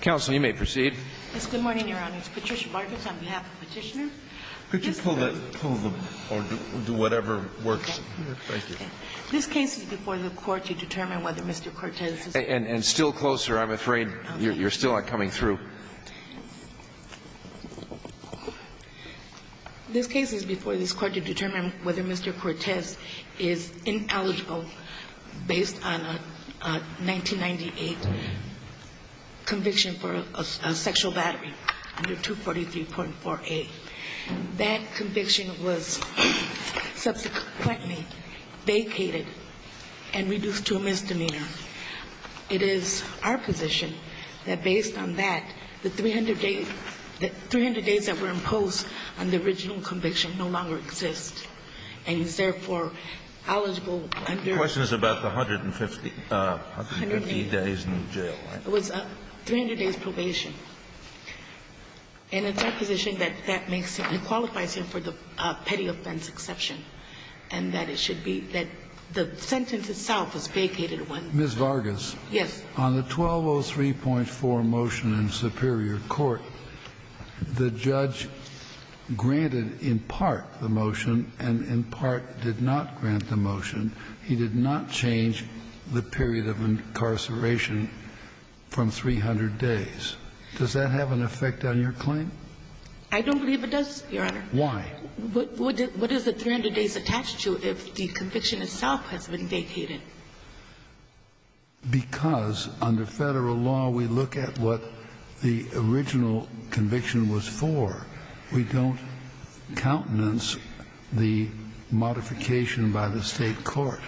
Counsel, you may proceed. Yes, good morning, Your Honor. It's Patricia Vargas on behalf of Petitioner. Could you pull the, or do whatever works? Thank you. This case is before the court to determine whether Mr. Cortez is... And still closer, I'm afraid. You're still not coming through. This case is before this court to determine whether Mr. Cortez is ineligible based on a 1998 conviction for a sexual battery under 243.4a. That conviction was subsequently vacated and reduced to a misdemeanor. It is our position that based on that, the 300 days that were imposed on the original conviction no longer exist, and he's therefore eligible under... It was 300 days probation. And it's our position that that makes him, he qualifies him for the petty offense exception, and that it should be, that the sentence itself was vacated when... Ms. Vargas. Yes. On the 1203.4 motion in Superior Court, the judge granted in part the motion and in part did not grant the motion. He did not change the period of incarceration from 300 days. Does that have an effect on your claim? I don't believe it does, Your Honor. Why? What is the 300 days attached to if the conviction itself has been vacated? Because under federal law, we look at what the original conviction was for. We don't countenance the modification by the State court.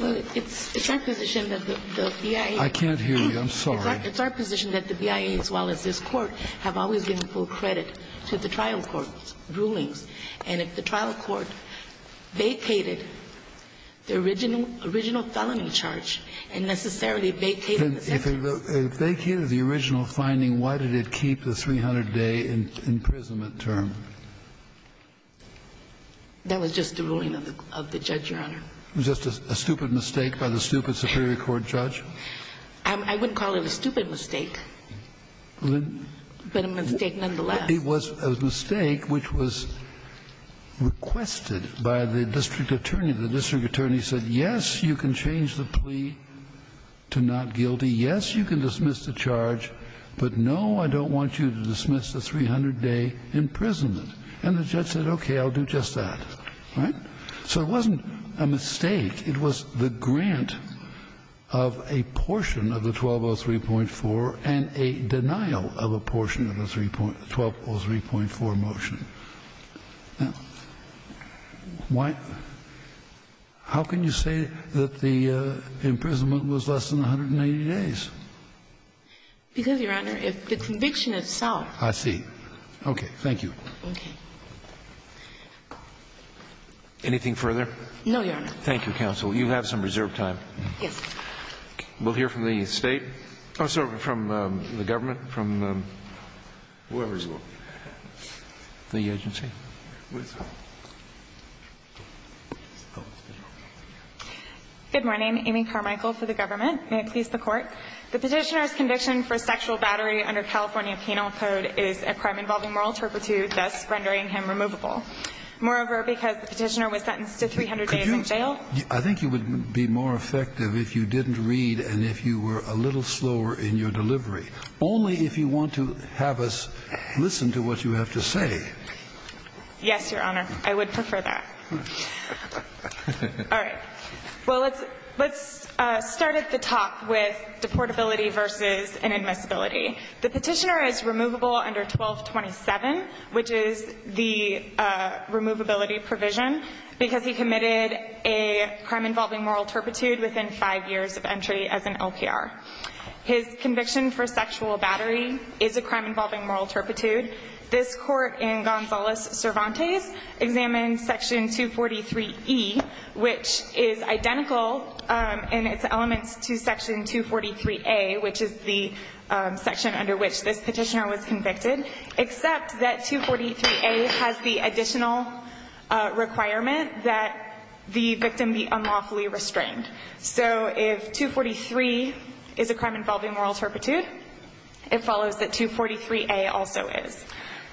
Well, it's our position that the BIA... I can't hear you. I'm sorry. It's our position that the BIA as well as this Court have always been full credit to the trial court's rulings. And if the trial court vacated the original felony charge and necessarily vacated the sentence... If they vacated the original finding, why did it keep the 300-day imprisonment term? That was just the ruling of the judge, Your Honor. It was just a stupid mistake by the stupid Superior Court judge? I wouldn't call it a stupid mistake, but a mistake nonetheless. It was a mistake which was requested by the district attorney. The district attorney said, yes, you can change the plea to not guilty. Yes, you can dismiss the charge, but no, I don't want you to dismiss the 300-day imprisonment. And the judge said, okay, I'll do just that. Right? So it wasn't a mistake. It was the grant of a portion of the 1203.4 and a denial of a portion of the 1203.4 motion. Now, why — how can you say that the imprisonment was less than 180 days? Because, Your Honor, if the conviction itself... I see. Okay. Thank you. Okay. Anything further? No, Your Honor. Thank you, counsel. You have some reserved time. Yes. We'll hear from the State — oh, sorry, from the government, from whoever's the agency. Good morning. Amy Carmichael for the government. May it please the Court. The Petitioner's conviction for sexual battery under California Penal Code is a crime involving moral turpitude, thus rendering him removable. Moreover, because the Petitioner was sentenced to 300 days in jail... Could you — I think it would be more effective if you didn't read and if you were a little slower in your delivery. Only if you want to have us listen to what you have to say. Yes, Your Honor. I would prefer that. All right. Well, let's start at the top with deportability versus inadmissibility. The Petitioner is removable under 1227, which is the removability provision, because he committed a crime involving moral turpitude within five years of entry as an LPR. His conviction for sexual battery is a crime involving moral turpitude. This Court, in Gonzalez-Cervantes, examines Section 243E, which is identical in its elements to Section 243A, which is the section under which this Petitioner was convicted, except that 243A has the additional requirement that the victim be unlawfully restrained. So if 243 is a crime involving moral turpitude, it follows that 243A also is.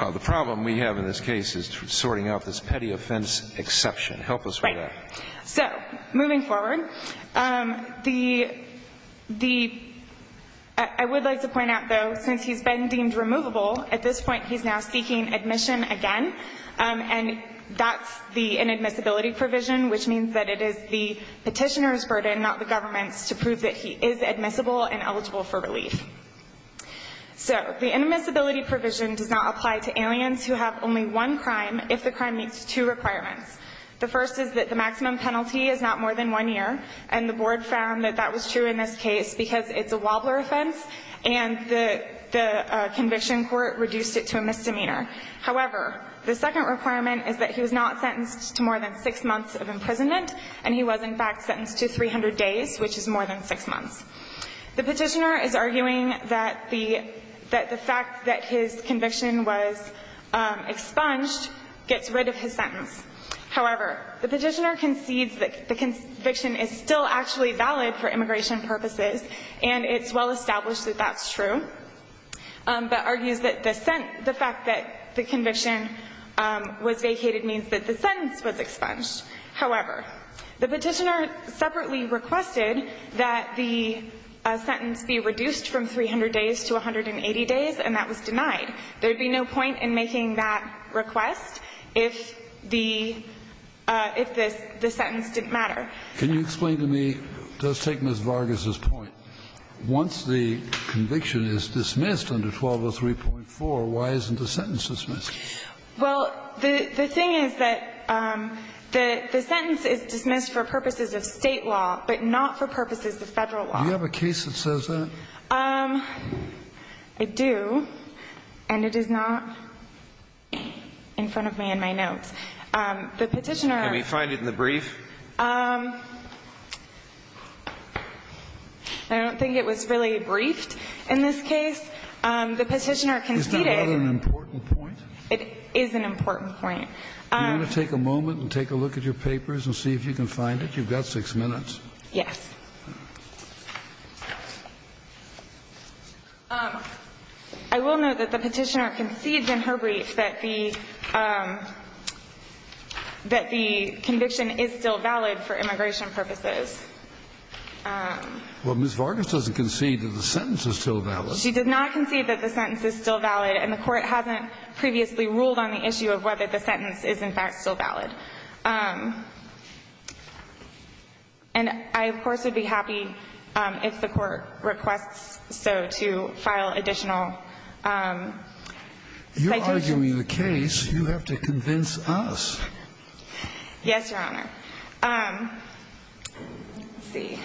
The problem we have in this case is sorting out this petty offense exception. Help us with that. Right. So, moving forward, the — I would like to point out, though, since he's been deemed removable, at this point he's now seeking admission again, and that's the inadmissibility provision, which means that it is the Petitioner's burden, not the government's, to prove that he is admissible and eligible for relief. So the inadmissibility provision does not apply to aliens who have only one crime if the crime meets two requirements. The first is that the maximum penalty is not more than one year, and the Board found that that was true in this case because it's a wobbler offense and the conviction court reduced it to a misdemeanor. However, the second requirement is that he was not sentenced to more than six months of imprisonment, and he was, in fact, sentenced to 300 days, which is more than six months. The Petitioner is arguing that the — that the fact that his conviction was expunged gets rid of his sentence. However, the Petitioner concedes that the conviction is still actually valid for immigration purposes, and it's well established that that's true, but argues that the fact that the conviction was vacated means that the sentence was expunged. However, the Petitioner separately requested that the sentence be reduced from 300 days to 180 days, and that was denied. There would be no point in making that request if the — if the sentence didn't matter. Kennedy. Can you explain to me, just taking Ms. Vargas's point, once the conviction is dismissed under 1203.4, why isn't the sentence dismissed? Well, the thing is that the sentence is dismissed for purposes of State law, but not for purposes of Federal law. Do you have a case that says that? I do, and it is not in front of me in my notes. The Petitioner — Can we find it in the brief? I don't think it was really briefed in this case. The Petitioner conceded — Is that not an important point? It is an important point. Do you want to take a moment and take a look at your papers and see if you can find it? You've got six minutes. Yes. I will note that the Petitioner concedes in her brief that the — that the conviction is still valid for immigration purposes. Well, Ms. Vargas doesn't concede that the sentence is still valid. She does not concede that the sentence is still valid, and the Court hasn't previously ruled on the issue of whether the sentence is, in fact, still valid. And I, of course, would be happy if the Court requests so to file additional citations. You're arguing the case. You have to convince us. Yes, Your Honor. Let's see.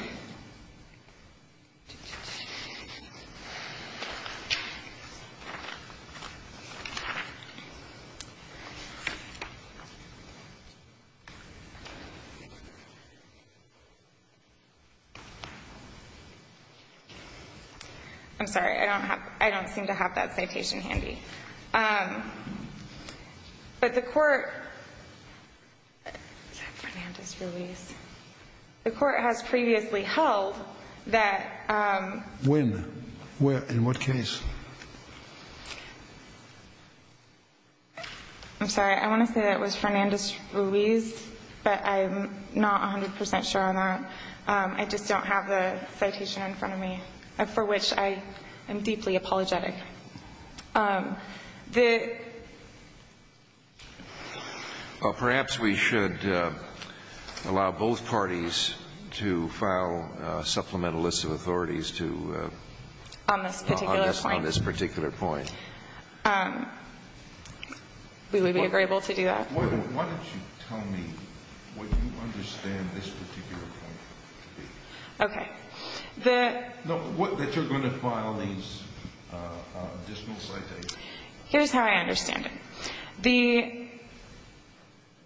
I'm sorry. I don't have — I don't seem to have that citation handy. But the Court — is that Fernandez-Ruiz? The Court has previously held that — When? Where? In what case? I'm sorry. I want to say that it was Fernandez-Ruiz, but I'm not 100 percent sure on that. I just don't have the citation in front of me, for which I am deeply apologetic. The — Well, perhaps we should allow both parties to file supplemental lists of authorities to — On this particular point. On this particular point. We would be able to do that. Why don't you tell me what you understand this particular point to be? Okay. The — No, what — that you're going to file these additional citations. Here's how I understand it. The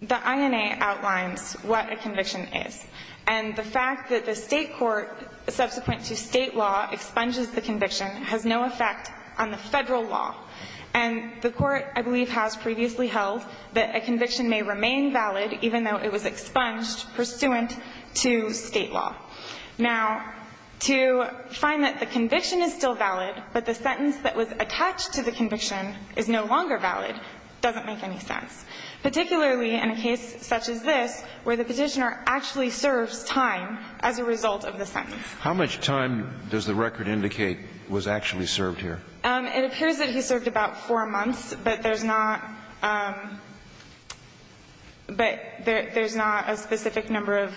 INA outlines what a conviction is. And the fact that the state court, subsequent to state law, expunges the conviction has no effect on the federal law. And the Court, I believe, has previously held that a conviction may remain valid even though it was expunged pursuant to state law. Now, to find that the conviction is still valid, but the sentence that was attached to the conviction is no longer valid doesn't make any sense, particularly in a case such as this, where the Petitioner actually serves time as a result of the sentence. How much time does the record indicate was actually served here? It appears that he served about four months, but there's not — but there's not a specific number of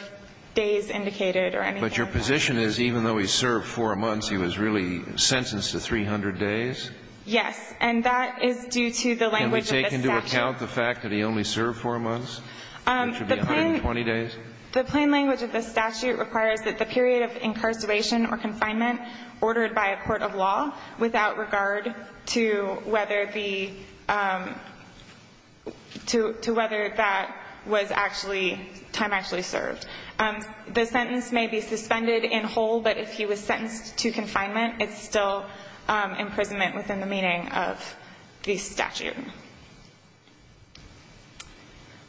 days indicated or anything. But your position is even though he served four months, he was really sentenced to 300 days? Yes. And that is due to the language of this statute. Can we take into account the fact that he only served four months? It should be 120 days? The plain — the plain language of this statute requires that the period of incarceration or confinement ordered by a court of law without regard to whether the — to whether that was actually — time actually served. The sentence may be suspended in whole, but if he was sentenced to confinement, it's still imprisonment within the meaning of the statute.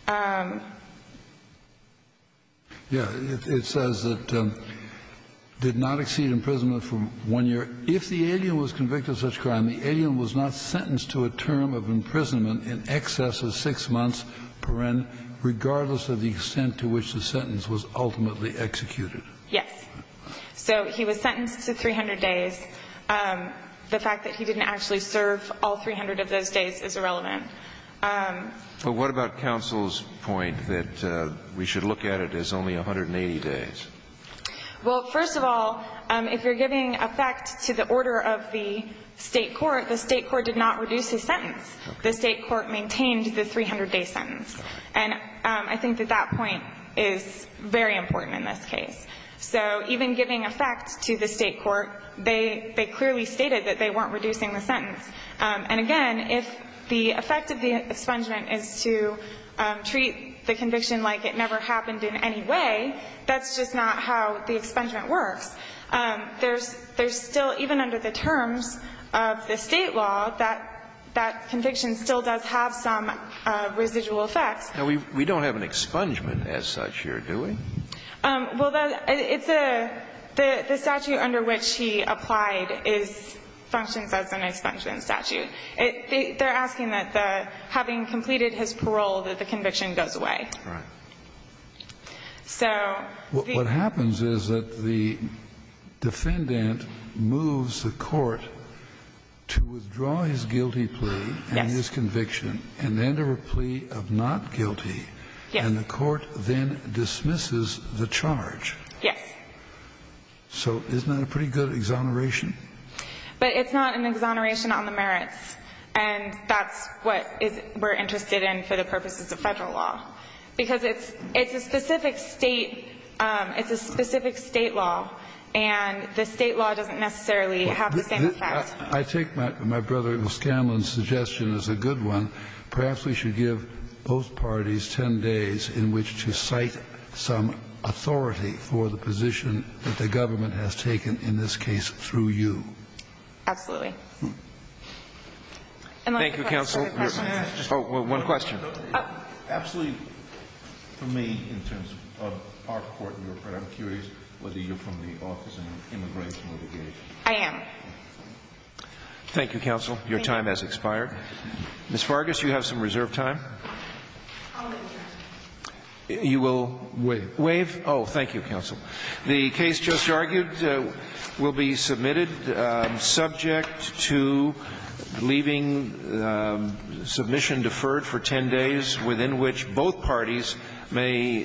Yeah. It says that did not exceed imprisonment for one year. If the alien was convicted of such crime, the alien was not sentenced to a term of imprisonment in excess of six months, regardless of the extent to which the sentence was ultimately executed. Yes. So he was sentenced to 300 days. The fact that he didn't actually serve all 300 of those days is irrelevant. But what about counsel's point that we should look at it as only 180 days? Well, first of all, if you're giving effect to the order of the State court, the State court did not reduce his sentence. The State court maintained the 300-day sentence. And I think that that point is very important in this case. So even giving effect to the State court, they clearly stated that they weren't reducing the sentence. And again, if the effect of the expungement is to treat the conviction like it never happened in any way, that's just not how the expungement works. There's still, even under the terms of the State law, that conviction still does have some residual effects. Now, we don't have an expungement as such here, do we? Well, the statute under which he applied functions as an expungement statute. They're asking that having completed his parole, that the conviction goes away. Right. What happens is that the defendant moves the court to withdraw his guilty plea and his conviction, and then to a plea of not guilty, and the court then dismisses the charge. Yes. So isn't that a pretty good exoneration? But it's not an exoneration on the merits. And that's what we're interested in for the purposes of Federal law. Because it's a specific State law, and the State law doesn't necessarily have the same effect. I take my brother, Ms. Scanlon's, suggestion as a good one. Perhaps we should give both parties 10 days in which to cite some authority for the position that the government has taken in this case through you. Absolutely. Thank you, counsel. One question. Absolutely, for me, in terms of our court, I'm curious whether you're from the Office of Immigration Litigation. I am. Thank you, counsel. Thank you. Your time has expired. Ms. Vargas, you have some reserved time. I'll waive. You will waive? Waive. Oh, thank you, counsel. The case just argued will be submitted subject to leaving submission deferred for 10 days within which both parties may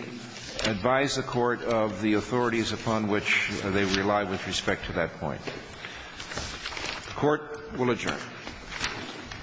advise the Court of the authorities upon which they rely with respect to that point. The Court will adjourn.